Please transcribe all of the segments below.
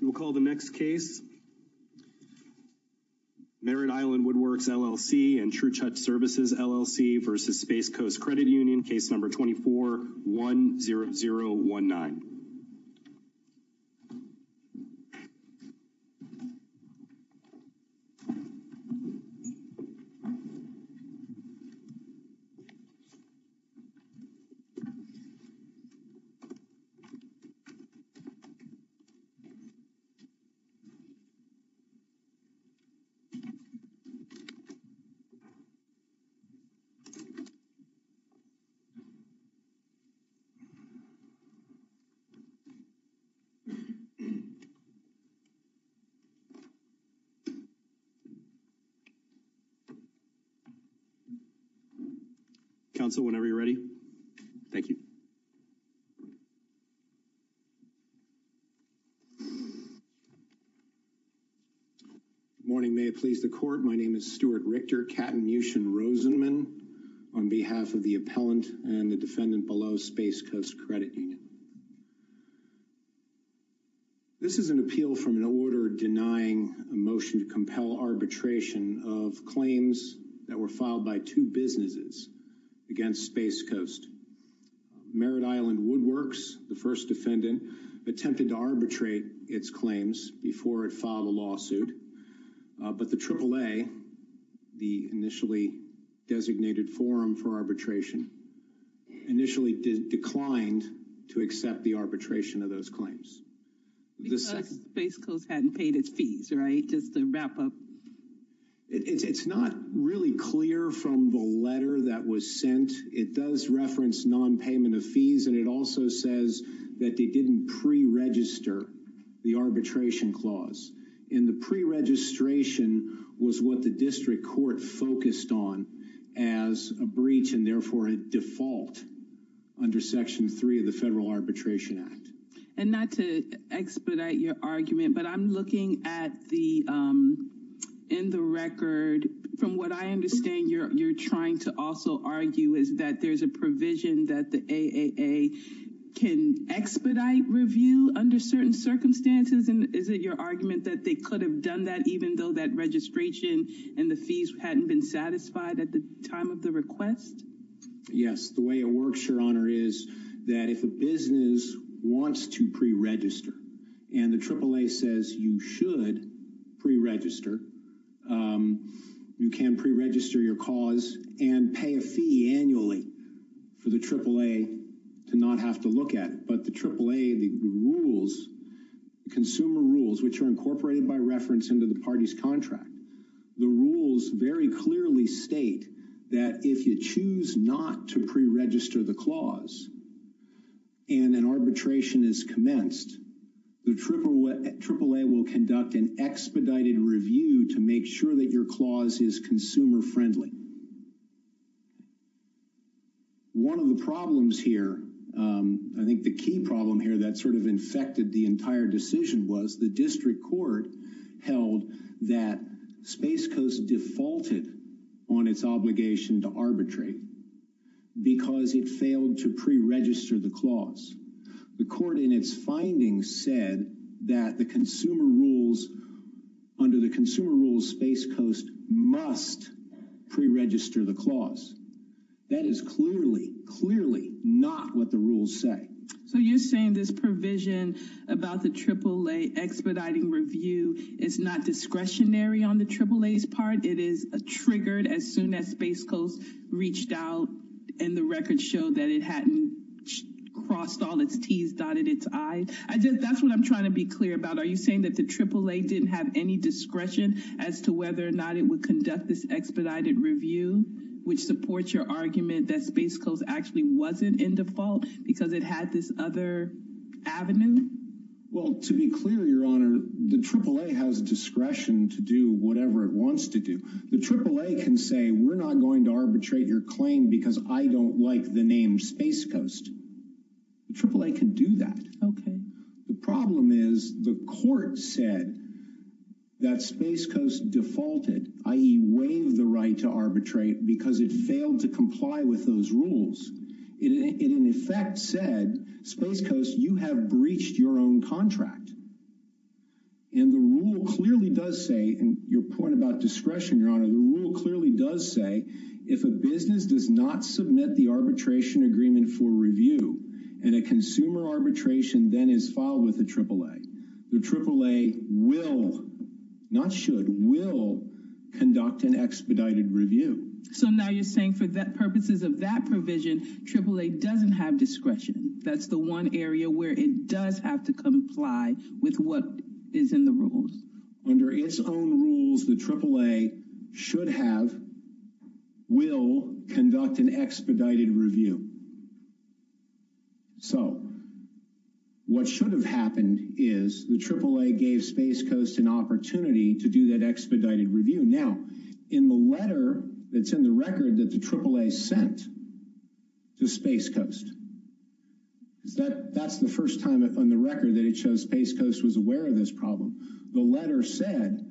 We will call the next case, Merritt Island Woodwerx, LLC and True Touch Services, LLC versus Space Coast Credit Union, case number 2410019. Merritt Island Woodwerx, LLC Merritt Island Woodwerx, LLC Morning, may it please the court. My name is Stuart Richter, Katton Mucin Rosenman, on behalf of the appellant and the defendant below Space Coast Credit Union. This is an appeal from an order denying a motion to compel arbitration of claims that were filed by two businesses against Space Coast. Merritt Island Woodwerx, the first defendant, attempted to arbitrate its claims before it filed a lawsuit, but the AAA, the initially designated forum for arbitration, initially declined to accept the arbitration of those claims. Because Space Coast hadn't paid its fees, right? Just to wrap up. It's not really clear from the letter that was sent. It does reference non-payment of fees, and it also says that they didn't pre-register the arbitration clause. And the pre-registration was what the district court focused on as a breach and therefore a default under Section 3 of the Federal Arbitration Act. And not to expedite your argument, but I'm looking at the, in the record, from what I understand, you're trying to also argue is that there's a provision that the AAA can expedite review under certain circumstances. And is it your argument that they could have done that even though that registration and the fees hadn't been satisfied at the time of the request? Yes, the way it works, Your Honor, is that if a business wants to pre-register and the AAA says you should pre-register, you can pre-register your cause and pay a fee annually for the AAA to not have to look at it. But the AAA, the rules, consumer rules, which are incorporated by reference into the party's contract, the rules very clearly state that if you choose not to pre-register the clause and an arbitration is commenced, the AAA will conduct an expedited review to make sure that your clause is consumer-friendly. One of the problems here, I think the key problem here that sort of infected the entire decision was the district court held that Space Coast defaulted on its obligation to arbitrate because it failed to pre-register the clause. The court in its findings said that the consumer rules, under the consumer rules, Space Coast must pre-register the clause. That is clearly, clearly not what the rules say. So you're saying this provision about the AAA expediting review is not discretionary on the AAA's part? It is triggered as soon as Space Coast reached out and the records show that it hadn't crossed all its T's, dotted its I's? That's what I'm trying to be clear about. Are you saying that the AAA didn't have any discretion as to whether or not it would conduct this expedited review, which supports your argument that Space Coast actually wasn't in default because it had this other avenue? Well, to be clear, Your Honor, the AAA has discretion to do whatever it wants to do. The AAA can say, we're not going to arbitrate your claim because I don't like the name Space Coast. The AAA can do that. Okay. The problem is the court said that Space Coast defaulted, i.e., waived the right to arbitrate because it failed to comply with those rules. It in effect said, Space Coast, you have breached your own contract. And the rule clearly does say, and your point about discretion, Your Honor, the rule clearly does say if a business does not submit the arbitration agreement for review and a consumer arbitration then is filed with the AAA, the AAA will, not should, will conduct an expedited review. So now you're saying for that purposes of that provision, AAA doesn't have discretion. That's the one area where it does have to comply with what is in the rules. Under its own rules, the AAA should have, will conduct an expedited review. So what should have happened is the AAA gave Space Coast an opportunity to do that expedited review. Now, in the letter that's in the record that the AAA sent to Space Coast, that's the first time on the record that it shows Space Coast was aware of this problem. The letter said,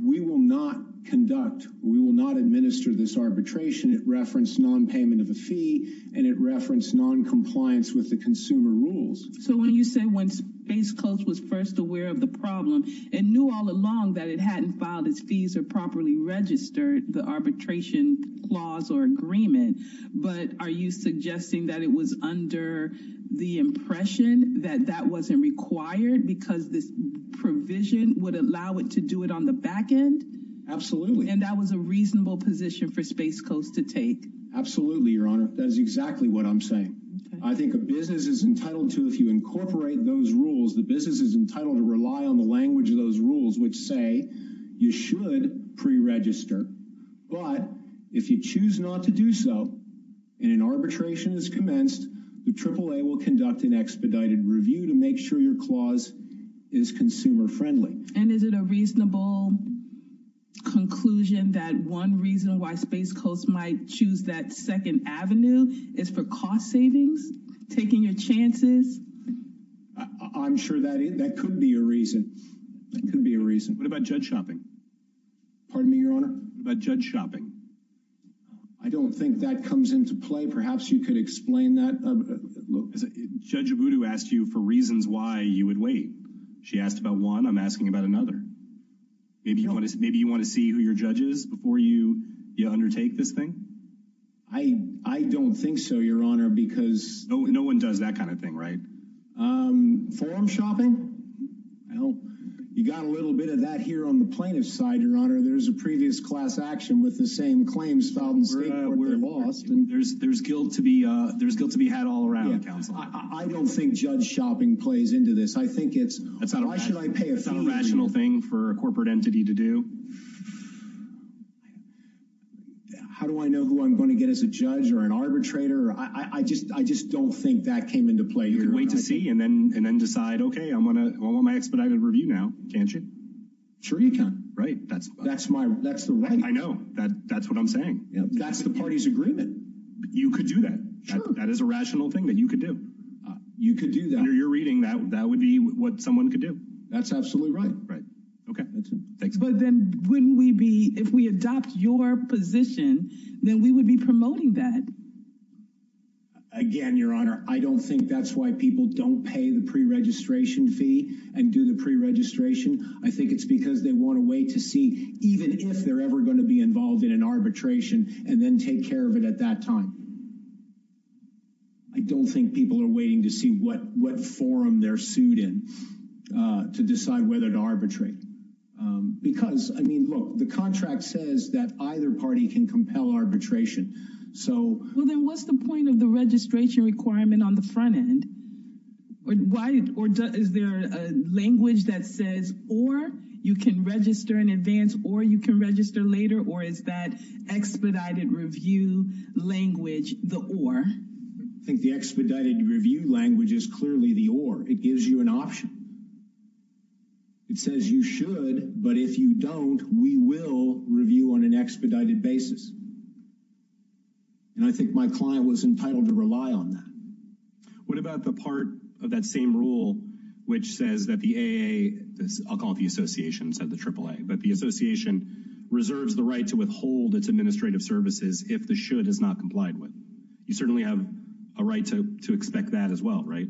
we will not conduct, we will not administer this arbitration. It referenced non-payment of a fee and it referenced non-compliance with the consumer rules. So when you say when Space Coast was first aware of the problem and knew all along that it hadn't filed its fees or properly registered the arbitration clause or agreement, but are you suggesting that it was under the impression that that wasn't required because this provision would allow it to do it on the back end? Absolutely. And that was a reasonable position for Space Coast to take? Absolutely, Your Honor. That is exactly what I'm saying. I think a business is entitled to, if you incorporate those rules, the business is entitled to rely on the language of those rules, which say you should pre-register. But if you choose not to do so and an arbitration is commenced, the AAA will conduct an expedited review to make sure your clause is consumer friendly. And is it a reasonable conclusion that one reason why Space Coast might choose that second avenue is for cost savings? Taking your chances? I'm sure that could be a reason. That could be a reason. What about judge shopping? Pardon me, Your Honor? What about judge shopping? I don't think that comes into play. Perhaps you could explain that. Judge Abudu asked you for reasons why you would wait. She asked about one. I'm asking about another. Maybe you want to see who your judge is before you undertake this thing? I don't think so, Your Honor, because... No one does that kind of thing, right? Forum shopping? Well, you got a little bit of that here on the plaintiff's side, Your Honor. There's a previous class action with the same claims filed in State Court that were lost. There's guilt to be had all around, counsel. I don't think judge shopping plays into this. I think it's, why should I pay a fee? It's not a rational thing for a corporate entity to do. How do I know who I'm going to get as a judge or an arbitrator? I just don't think that came into play, Your Honor. You could wait to see and then decide, okay, I want my expedited review now. Can't you? Sure you can. Right. That's the right answer. I know. That's what I'm saying. That's the party's agreement. You could do that. That is a rational thing that you could do. You could do that. Under your reading, that would be what someone could do. That's absolutely right. Right. Okay. But then wouldn't we be, if we adopt your position, then we would be promoting that. Again, Your Honor, I don't think that's why people don't pay the pre-registration fee and do the pre-registration. I think it's because they want to wait to see, even if they're ever going to be involved in an arbitration, and then take care of it at that time. I don't think people are waiting to see what forum they're sued in to decide whether to arbitrate. Because, I mean, look, the contract says that either party can compel arbitration. Well, then what's the point of the registration requirement on the front end? Is there a language that says, or you can register in advance, or you can register later, or is that expedited review language the or? I think the expedited review language is clearly the or. It gives you an option. It says you should, but if you don't, we will review on an expedited basis. And I think my client was entitled to rely on that. What about the part of that same rule which says that the AAA, I'll call it the association instead of the AAA, but the association reserves the right to withhold its administrative services if the should is not complied with? You certainly have a right to expect that as well, right?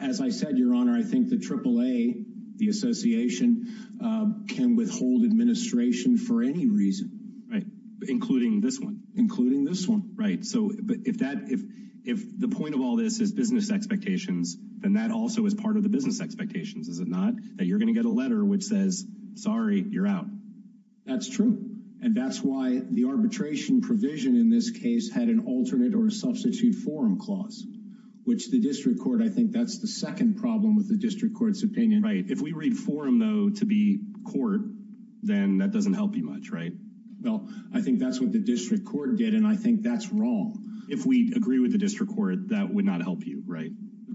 As I said, Your Honor, I think the AAA, the association, can withhold administration for any reason. Right. Including this one. Including this one. Right. So if the point of all this is business expectations, then that also is part of the business expectations, is it not? That you're going to get a letter which says, sorry, you're out. That's true. And that's why the arbitration provision in this case had an alternate or substitute forum clause, which the district court, I think that's the second problem with the district court's opinion. Right. If we read forum, though, to be court, then that doesn't help you much, right? Well, I think that's what the district court did, and I think that's wrong. If we agree with the district court, that would not help you, right?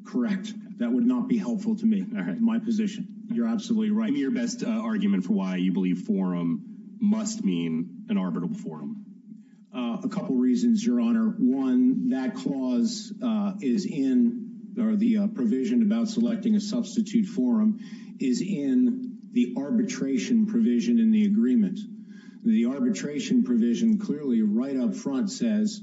Correct. That would not be helpful to me. All right. My position. You're absolutely right. Give me your best argument for why you believe forum must mean an arbitral forum. A couple reasons, Your Honor. One, that clause is in or the provision about selecting a substitute forum is in the arbitration provision in the agreement. The arbitration provision clearly right up front says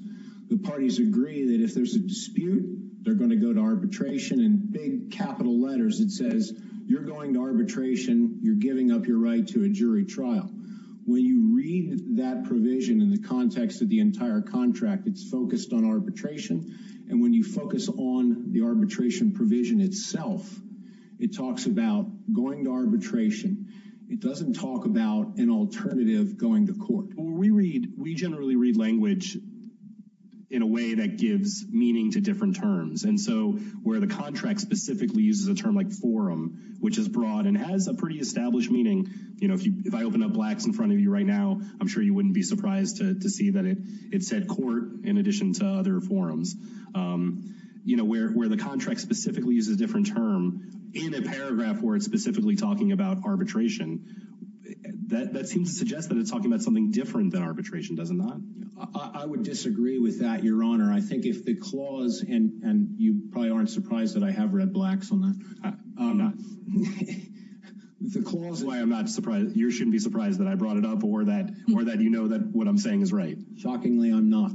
the parties agree that if there's a dispute, they're going to go to arbitration. In big capital letters, it says you're going to arbitration. You're giving up your right to a jury trial. When you read that provision in the context of the entire contract, it's focused on arbitration. And when you focus on the arbitration provision itself, it talks about going to arbitration. It doesn't talk about an alternative going to court. We read we generally read language in a way that gives meaning to different terms. And so where the contract specifically uses a term like forum, which is broad and has a pretty established meaning. You know, if I open up blacks in front of you right now, I'm sure you wouldn't be surprised to see that it said court. In addition to other forums, you know, where the contract specifically is a different term in a paragraph where it's specifically talking about arbitration. That seems to suggest that it's talking about something different than arbitration, does it not? I would disagree with that, Your Honor. I think if the clause and you probably aren't surprised that I have read blacks on that. I'm not. The clause. Why I'm not surprised. You shouldn't be surprised that I brought it up or that or that, you know, that what I'm saying is right. Shockingly, I'm not.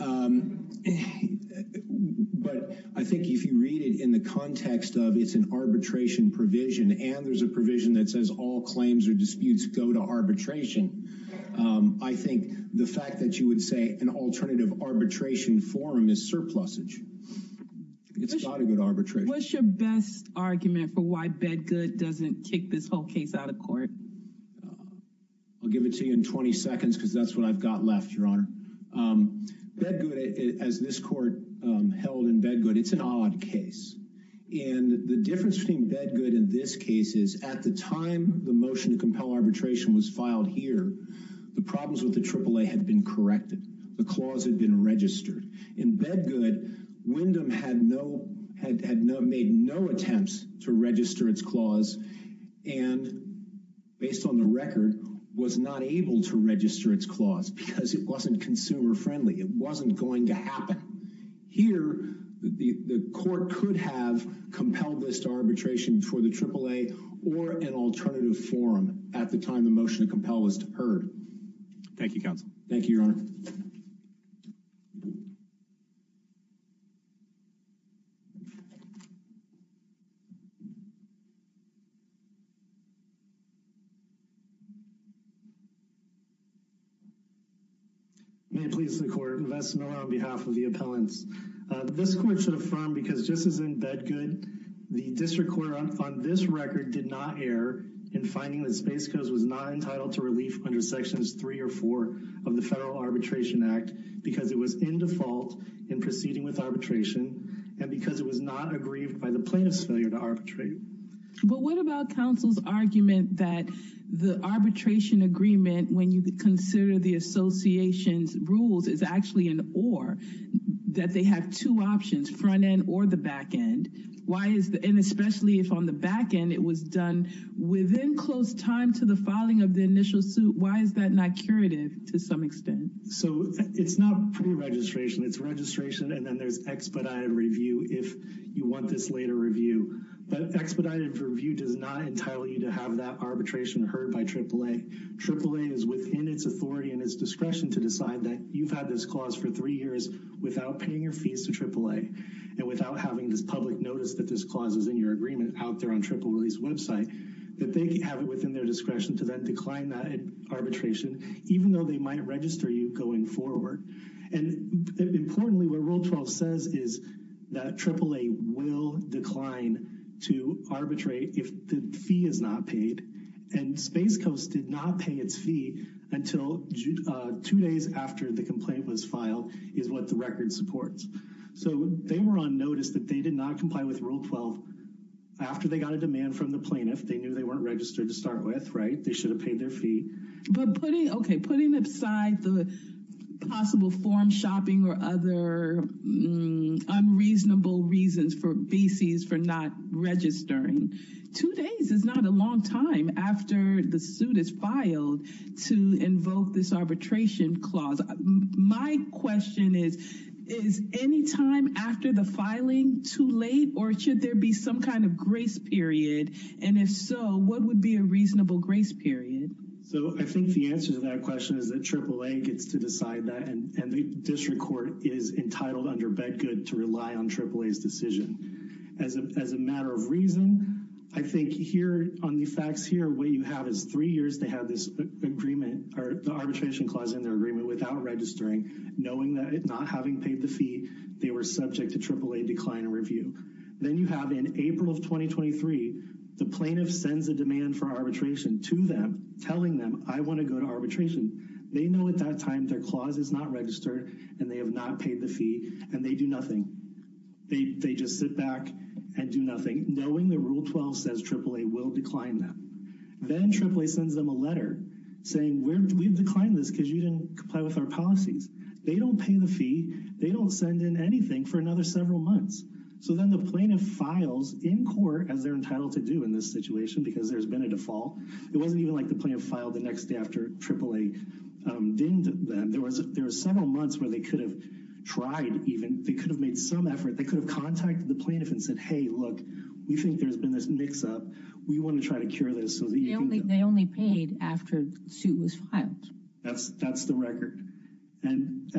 But I think if you read it in the context of it's an arbitration provision and there's a provision that says all claims or disputes go to arbitration. I think the fact that you would say an alternative arbitration forum is surplusage. It's not a good arbitration. What's your best argument for why Bedgood doesn't kick this whole case out of court? I'll give it to you in 20 seconds because that's what I've got left, Your Honor. Bedgood, as this court held in Bedgood, it's an odd case. And the difference between Bedgood in this case is at the time the motion to compel arbitration was filed here, the problems with the AAA had been corrected. The clause had been registered. In Bedgood, Wyndham had no had no made no attempts to register its clause. And based on the record, was not able to register its clause because it wasn't consumer friendly. It wasn't going to happen here. The court could have compelled this arbitration for the AAA or an alternative forum at the time the motion to compel was heard. Thank you, counsel. Thank you, Your Honor. Thank you, Your Honor. and because it was not agreed by the plaintiffs, failure to arbitrate. But what about counsel's argument that the arbitration agreement, when you consider the association's rules, is actually an or that they have two options front and or the back end? Why is that? And especially if on the back end, it was done within close time to the filing of the initial suit. Why is that not curative to some extent? So it's not pre-registration. It's registration. And then there's expedited review if you want this later review. But expedited review does not entitle you to have that arbitration heard by AAA. AAA is within its authority and its discretion to decide that you've had this clause for three years without paying your fees to AAA and without having this public notice that this clause is in your agreement out there on AAA's website. That they have it within their discretion to then decline that arbitration, even though they might register you going forward. And importantly, what Rule 12 says is that AAA will decline to arbitrate if the fee is not paid. And Space Coast did not pay its fee until two days after the complaint was filed is what the record supports. So they were on notice that they did not comply with Rule 12 after they got a demand from the plaintiff. They knew they weren't registered to start with. Right. They should have paid their fee. But putting OK, putting aside the possible form shopping or other unreasonable reasons for BCs for not registering two days is not a long time after the suit is filed to invoke this arbitration clause. My question is, is any time after the filing too late or should there be some kind of grace period? And if so, what would be a reasonable grace period? So I think the answer to that question is that AAA gets to decide that. And the district court is entitled under Bedgood to rely on AAA's decision as a matter of reason. I think here on the facts here, what you have is three years they have this agreement or the arbitration clause in their agreement without registering, knowing that not having paid the fee, they were subject to AAA decline in review. Then you have in April of 2023, the plaintiff sends a demand for arbitration to them, telling them, I want to go to arbitration. They know at that time their clause is not registered and they have not paid the fee and they do nothing. They just sit back and do nothing, knowing that Rule 12 says AAA will decline them. Then AAA sends them a letter saying, we've declined this because you didn't comply with our policies. They don't pay the fee. They don't send in anything for another several months. So then the plaintiff files in court as they're entitled to do in this situation because there's been a default. It wasn't even like the plaintiff filed the next day after AAA dinged them. There was several months where they could have tried even, they could have made some effort. They could have contacted the plaintiff and said, hey, look, we think there's been this mix up. We want to try to cure this. They only paid after the suit was filed. That's the record. And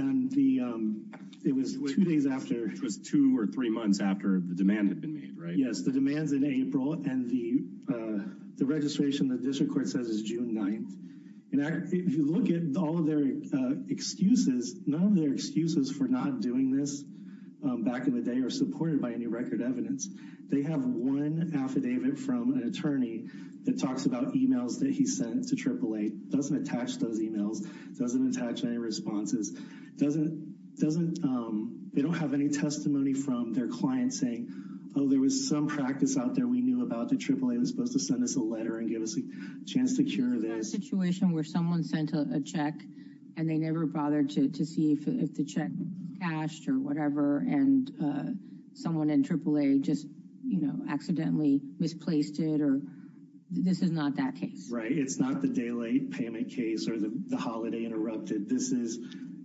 it was two days after. It was two or three months after the demand had been made, right? Yes, the demands in April and the registration the district court says is June 9th. If you look at all of their excuses, none of their excuses for not doing this back in the day are supported by any record evidence. They have one affidavit from an attorney that talks about emails that he sent to AAA. Doesn't attach those emails. Doesn't attach any responses. They don't have any testimony from their client saying, oh, there was some practice out there we knew about that AAA was supposed to send us a letter and give us a chance to cure this. This is a situation where someone sent a check and they never bothered to see if the check cashed or whatever and someone in AAA just, you know, accidentally misplaced it or this is not that case. Right. It's not the daylight payment case or the holiday interrupted. This is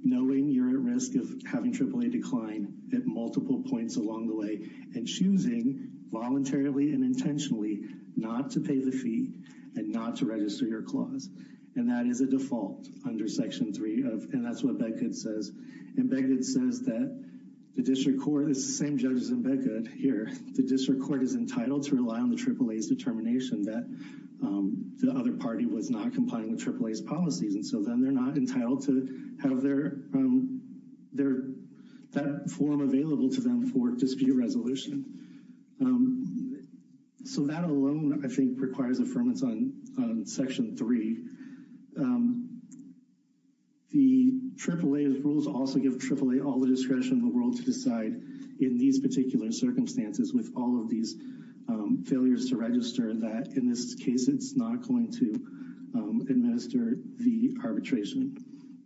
knowing you're at risk of having AAA decline at multiple points along the way and choosing voluntarily and intentionally not to pay the fee and not to register your clause. And that is a default under Section 3. And that's what Beckett says. And Beckett says that the district court is the same judges in Beckett here. The district court is entitled to rely on the AAA's determination that the other party was not complying with AAA's policies. And so then they're not entitled to have their that form available to them for dispute resolution. So that alone, I think, requires affirmance on Section 3. And I think that's a very good point. So as a result of the AAA rules also give AAA all the discretion in the world to decide in these particular circumstances with all of these failures to register that in this case it's not going to administer the arbitration.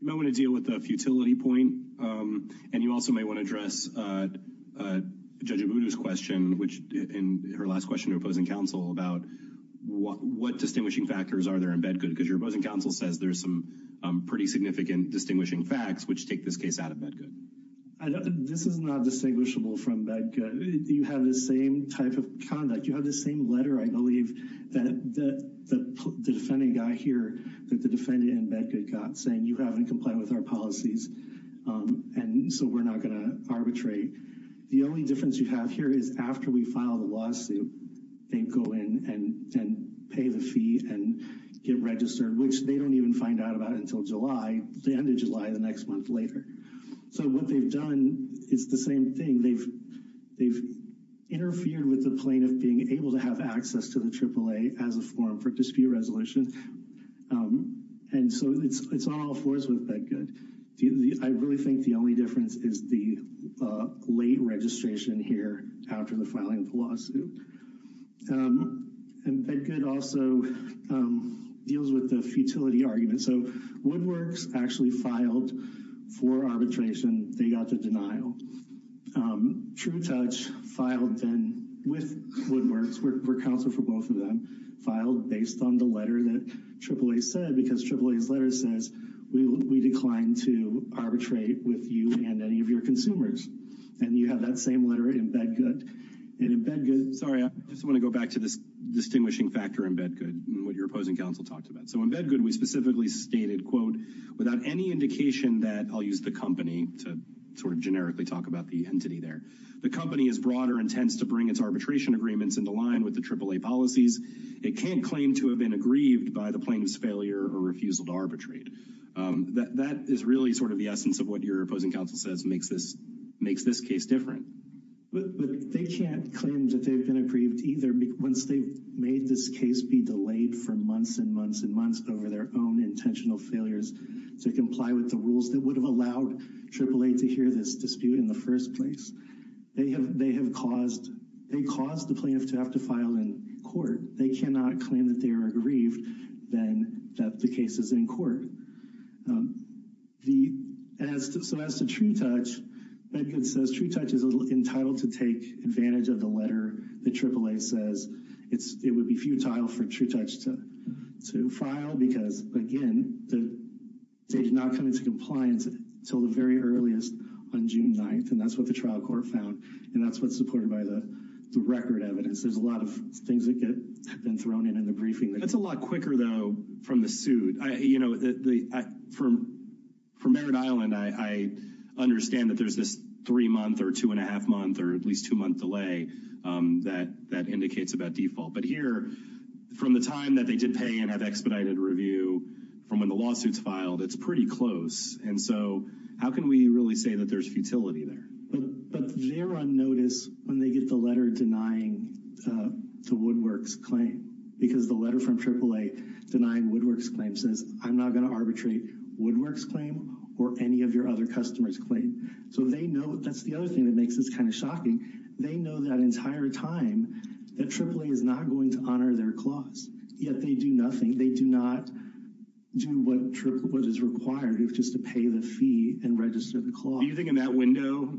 You may want to deal with the futility point. And you also may want to address Judge Obudu's question, which in her last question to opposing counsel about what distinguishing factors are there in Bedgood, because your opposing counsel says there's some pretty significant distinguishing facts which take this case out of Bedgood. This is not distinguishable from Bedgood. You have the same type of conduct. You have the same letter, I believe, that the defending guy here that the defendant in Bedgood got saying you haven't complied with our policies. And so we're not going to arbitrate. The only difference you have here is after we file the lawsuit, they go in and pay the fee and get registered, which they don't even find out about until July, the end of July, the next month later. So what they've done is the same thing. They've interfered with the plaintiff being able to have access to the AAA as a form for dispute resolution. And so it's on all fours with Bedgood. I really think the only difference is the late registration here after the filing of the lawsuit. And Bedgood also deals with the futility argument. So Woodworks actually filed for arbitration. They got the denial. True Touch filed then with Woodworks. We're counsel for both of them. Filed based on the letter that AAA said, because AAA's letter says we decline to arbitrate with you and any of your consumers. And you have that same letter in Bedgood. And in Bedgood — Sorry, I just want to go back to this distinguishing factor in Bedgood and what your opposing counsel talked about. So in Bedgood, we specifically stated, quote, without any indication that I'll use the company to sort of generically talk about the entity there. The company is broader and tends to bring its arbitration agreements in the line with the AAA policies. It can't claim to have been aggrieved by the plaintiff's failure or refusal to arbitrate. That is really sort of the essence of what your opposing counsel says makes this case different. But they can't claim that they've been aggrieved either once they've made this case be delayed for months and months and months over their own intentional failures to comply with the rules that would have allowed AAA to hear this dispute in the first place. They have caused the plaintiff to have to file in court. They cannot claim that they are aggrieved, then, that the case is in court. So as to TrueTouch, Bedgood says TrueTouch is entitled to take advantage of the letter that AAA says. It would be futile for TrueTouch to file because, again, they did not come into compliance until the very earliest on June 9th, and that's what the trial court found. And that's what's supported by the record evidence. There's a lot of things that have been thrown in in the briefing. That's a lot quicker, though, from the suit. You know, from Merritt Island, I understand that there's this three-month or two-and-a-half-month or at least two-month delay that indicates about default. But here, from the time that they did pay and have expedited review, from when the lawsuit's filed, it's pretty close. And so how can we really say that there's futility there? But they're on notice when they get the letter denying the Woodworks claim because the letter from AAA denying Woodworks' claim says, I'm not going to arbitrate Woodworks' claim or any of your other customers' claim. So they know that's the other thing that makes this kind of shocking. They know that entire time that AAA is not going to honor their clause, yet they do nothing. They do not do what is required, which is to pay the fee and register the clause. Do you think in that window,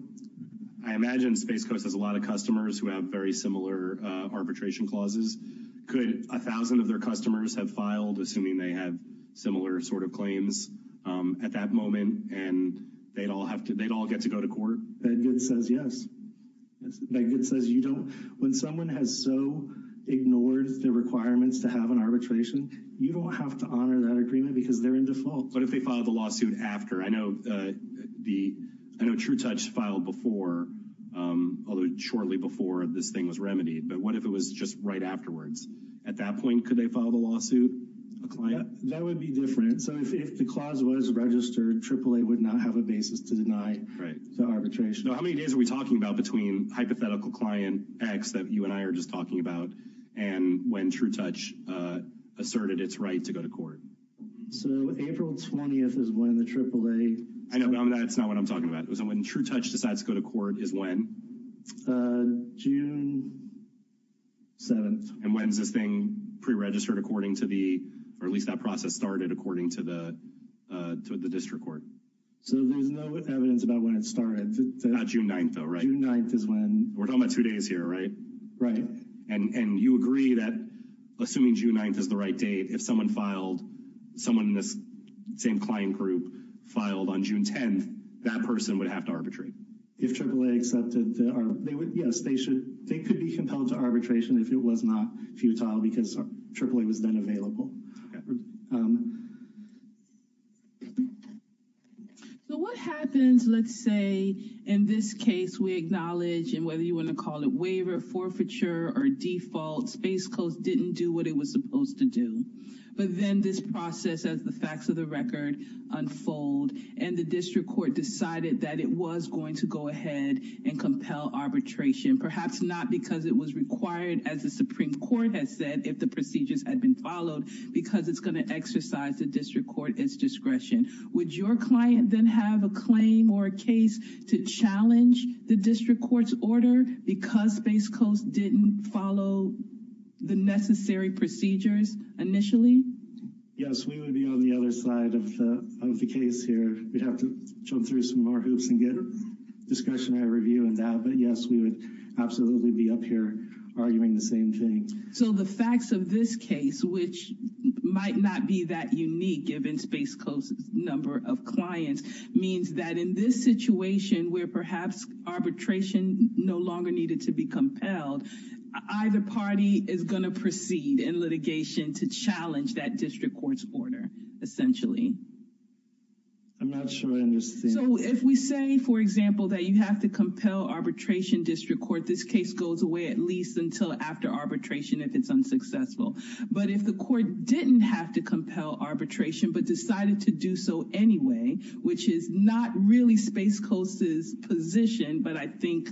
I imagine Space Coast has a lot of customers who have very similar arbitration clauses. Could 1,000 of their customers have filed, assuming they have similar sort of claims at that moment, and they'd all get to go to court? Bedgood says yes. Bedgood says you don't. When someone has so ignored the requirements to have an arbitration, you don't have to honor that agreement because they're in default. What if they filed the lawsuit after? I know TrueTouch filed before, although shortly before this thing was remedied. But what if it was just right afterwards? At that point, could they file the lawsuit? That would be different. So if the clause was registered, AAA would not have a basis to deny the arbitration. How many days are we talking about between hypothetical client X that you and I are just talking about and when TrueTouch asserted its right to go to court? So April 20th is when the AAA... I know, but that's not what I'm talking about. So when TrueTouch decides to go to court is when? June 7th. And when's this thing pre-registered according to the, or at least that process started according to the district court? So there's no evidence about when it started. Not June 9th, though, right? June 9th is when... We're talking about two days here, right? Right. And you agree that assuming June 9th is the right date, if someone filed, someone in this same client group filed on June 10th, that person would have to arbitrate. If AAA accepted... Yes, they could be compelled to arbitration if it was not futile because AAA was then available. So what happens, let's say, in this case, we acknowledge and whether you want to call it waiver, forfeiture or default, Space Coast didn't do what it was supposed to do. But then this process, as the facts of the record unfold, and the district court decided that it was going to go ahead and compel arbitration, perhaps not because it was required, as the Supreme Court has said, if the procedures had been followed. Because it's going to exercise the district court its discretion. Would your client then have a claim or a case to challenge the district court's order because Space Coast didn't follow the necessary procedures initially? Yes, we would be on the other side of the case here. We'd have to jump through some more hoops and get a discussion or review on that. But yes, we would absolutely be up here arguing the same thing. So the facts of this case, which might not be that unique given Space Coast's number of clients, means that in this situation where perhaps arbitration no longer needed to be compelled, either party is going to proceed in litigation to challenge that district court's order, essentially. I'm not sure I understand. So if we say, for example, that you have to compel arbitration district court, this case goes away at least until after arbitration if it's unsuccessful. But if the court didn't have to compel arbitration but decided to do so anyway, which is not really Space Coast's position but I think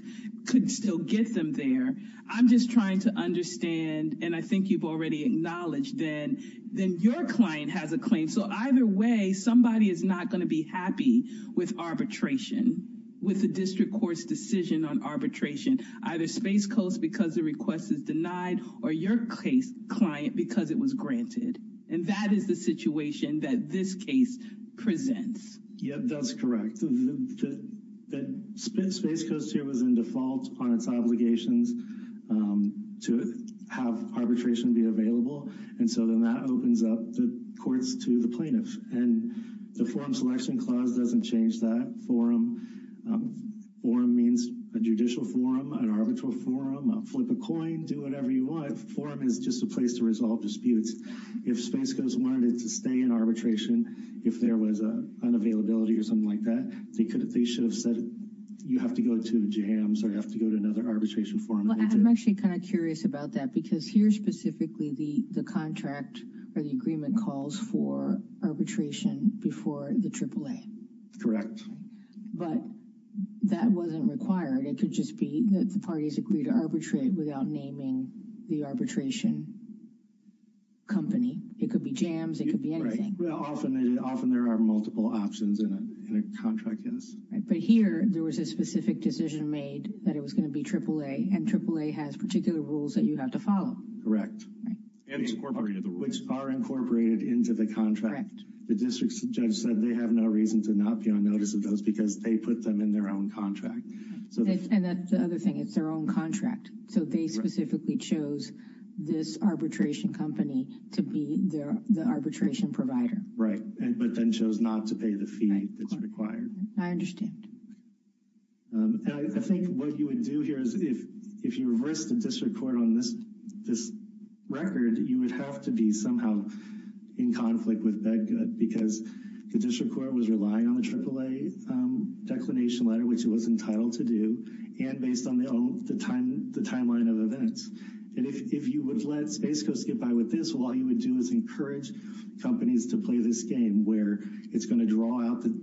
could still get them there, I'm just trying to understand, and I think you've already acknowledged, then your client has a claim. So either way, somebody is not going to be happy with arbitration, with the district court's decision on arbitration, either Space Coast because the request is denied or your client because it was granted. And that is the situation that this case presents. Yeah, that's correct. Space Coast here was in default on its obligations to have arbitration be available. And so then that opens up the courts to the plaintiff. And the forum selection clause doesn't change that forum. Forum means a judicial forum, an arbitral forum, a flip a coin, do whatever you want. Forum is just a place to resolve disputes. If Space Coast wanted to stay in arbitration, if there was an unavailability or something like that, they should have said you have to go to JAMS or you have to go to another arbitration forum. I'm actually kind of curious about that because here specifically the contract or the agreement calls for arbitration before the AAA. Correct. But that wasn't required. It could just be that the parties agreed to arbitrate without naming the arbitration company. It could be JAMS. It could be anything. Often there are multiple options in a contract. But here there was a specific decision made that it was going to be AAA and AAA has particular rules that you have to follow. Correct. Which are incorporated into the contract. The district judge said they have no reason to not be on notice of those because they put them in their own contract. And that's the other thing. It's their own contract. So they specifically chose this arbitration company to be the arbitration provider. Right. But then chose not to pay the fee that's required. I understand. I think what you would do here is if you reverse the district court on this record, you would have to be somehow in conflict with that because the district court was relying on the AAA declination letter, which it was entitled to do. And based on the timeline of events. And if you would let Space Coast get by with this, all you would do is encourage companies to play this game where it's going to draw out the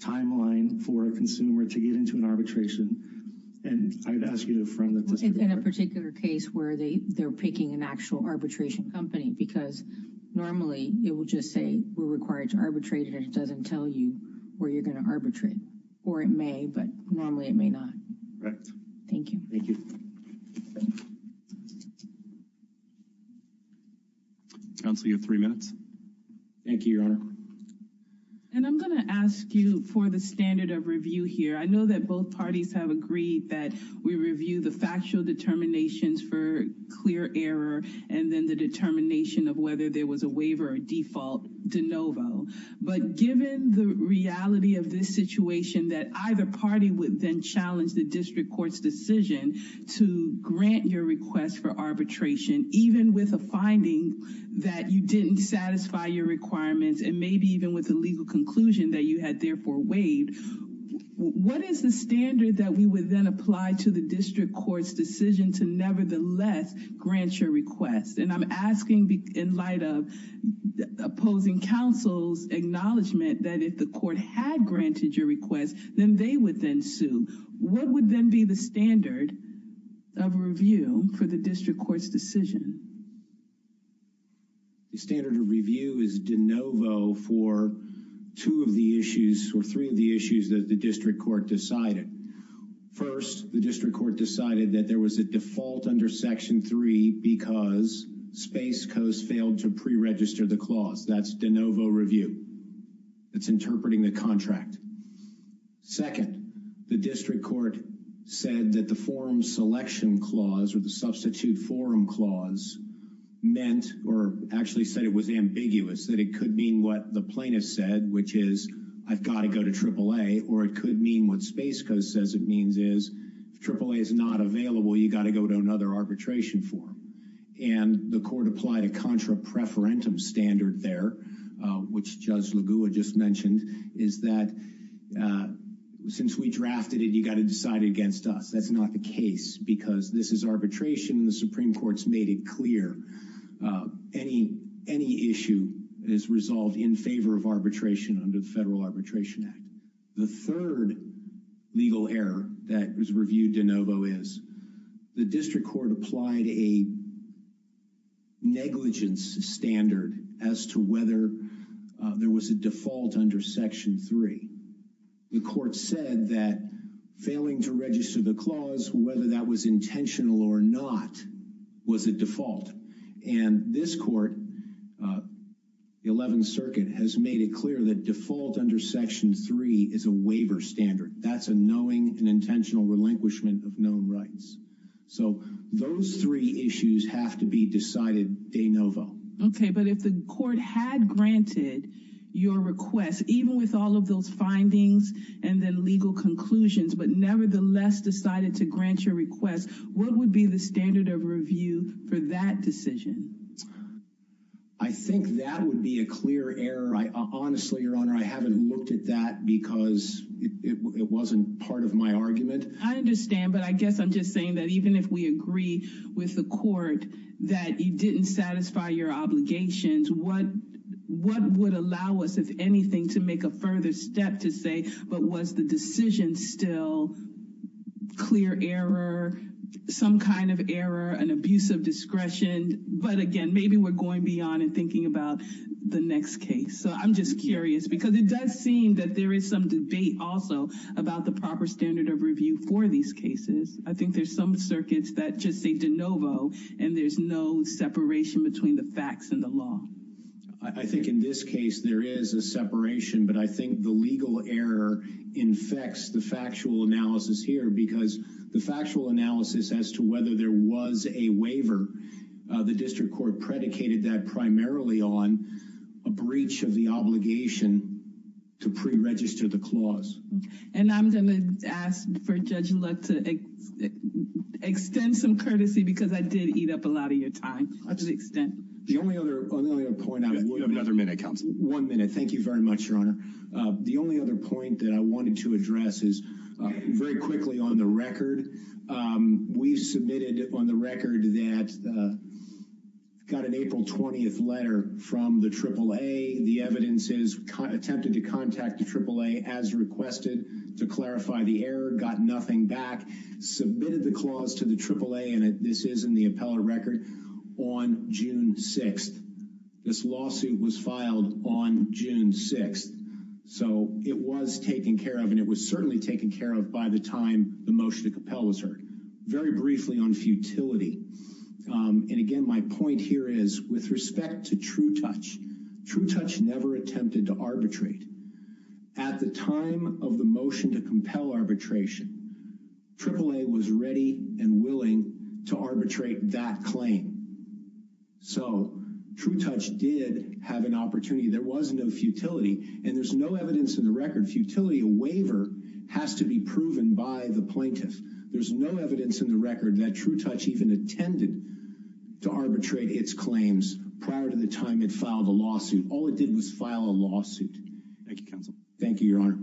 timeline for a consumer to get into an arbitration. And I would ask you to affirm that. In a particular case where they they're picking an actual arbitration company, because normally it will just say we're required to arbitrate and it doesn't tell you where you're going to arbitrate. Or it may, but normally it may not. Right. Thank you. Thank you. Council, you have three minutes. Thank you, Your Honor. And I'm going to ask you for the standard of review here. I know that both parties have agreed that we review the factual determinations for clear error and then the determination of whether there was a waiver or default de novo. But given the reality of this situation that either party would then challenge the district court's decision to grant your request for arbitration, even with a finding that you didn't satisfy your requirements and maybe even with a legal conclusion that you had therefore waived. What is the standard that we would then apply to the district court's decision to nevertheless grant your request? And I'm asking in light of opposing counsel's acknowledgement that if the court had granted your request, then they would then sue. What would then be the standard of review for the district court's decision? The standard of review is de novo for two of the issues or three of the issues that the district court decided. First, the district court decided that there was a default under Section 3 because Space Coast failed to preregister the clause. That's de novo review. It's interpreting the contract. Second, the district court said that the forum selection clause or the substitute forum clause meant or actually said it was ambiguous, that it could mean what the plaintiff said, which is I've got to go to AAA or it could mean what Space Coast says it means is AAA is not available. You got to go to another arbitration form. And the court applied a contra preferentum standard there, which Judge Lagua just mentioned, is that since we drafted it, you got to decide against us. That's not the case because this is arbitration. The Supreme Court's made it clear any any issue is resolved in favor of arbitration under the Federal Arbitration Act. The third legal error that was reviewed de novo is the district court applied a negligence standard as to whether there was a default under Section 3. The court said that failing to register the clause, whether that was intentional or not, was a default. And this court, the 11th Circuit, has made it clear that default under Section 3 is a waiver standard. That's a knowing and intentional relinquishment of known rights. So those three issues have to be decided de novo. OK, but if the court had granted your request, even with all of those findings and then legal conclusions, but nevertheless decided to grant your request, what would be the standard of review for that decision? I think that would be a clear error. Honestly, Your Honor, I haven't looked at that because it wasn't part of my argument. I understand. But I guess I'm just saying that even if we agree with the court that you didn't satisfy your obligations, what what would allow us, if anything, to make a further step to say? But was the decision still clear error, some kind of error, an abuse of discretion? But again, maybe we're going beyond and thinking about the next case. So I'm just curious, because it does seem that there is some debate also about the proper standard of review for these cases. I think there's some circuits that just say de novo and there's no separation between the facts and the law. I think in this case there is a separation, but I think the legal error infects the factual analysis here because the factual analysis as to whether there was a waiver. The district court predicated that primarily on a breach of the obligation to preregister the clause. And I'm going to ask for Judge Luck to extend some courtesy because I did eat up a lot of your time to the extent. The only other point I would have another minute comes one minute. Thank you very much, Your Honor. The only other point that I wanted to address is very quickly on the record. We've submitted on the record that got an April 20th letter from the AAA. The evidence is attempted to contact the AAA as requested to clarify the error. Got nothing back. Submitted the clause to the AAA. And this is in the appellate record on June 6th. This lawsuit was filed on June 6th. So it was taken care of and it was certainly taken care of by the time the motion to compel was heard very briefly on futility. And again, my point here is with respect to True Touch, True Touch never attempted to arbitrate. At the time of the motion to compel arbitration, AAA was ready and willing to arbitrate that claim. So True Touch did have an opportunity. There was no futility and there's no evidence in the record. Futility waiver has to be proven by the plaintiff. There's no evidence in the record that True Touch even attended to arbitrate its claims prior to the time it filed the lawsuit. All it did was file a lawsuit. Thank you, Your Honor.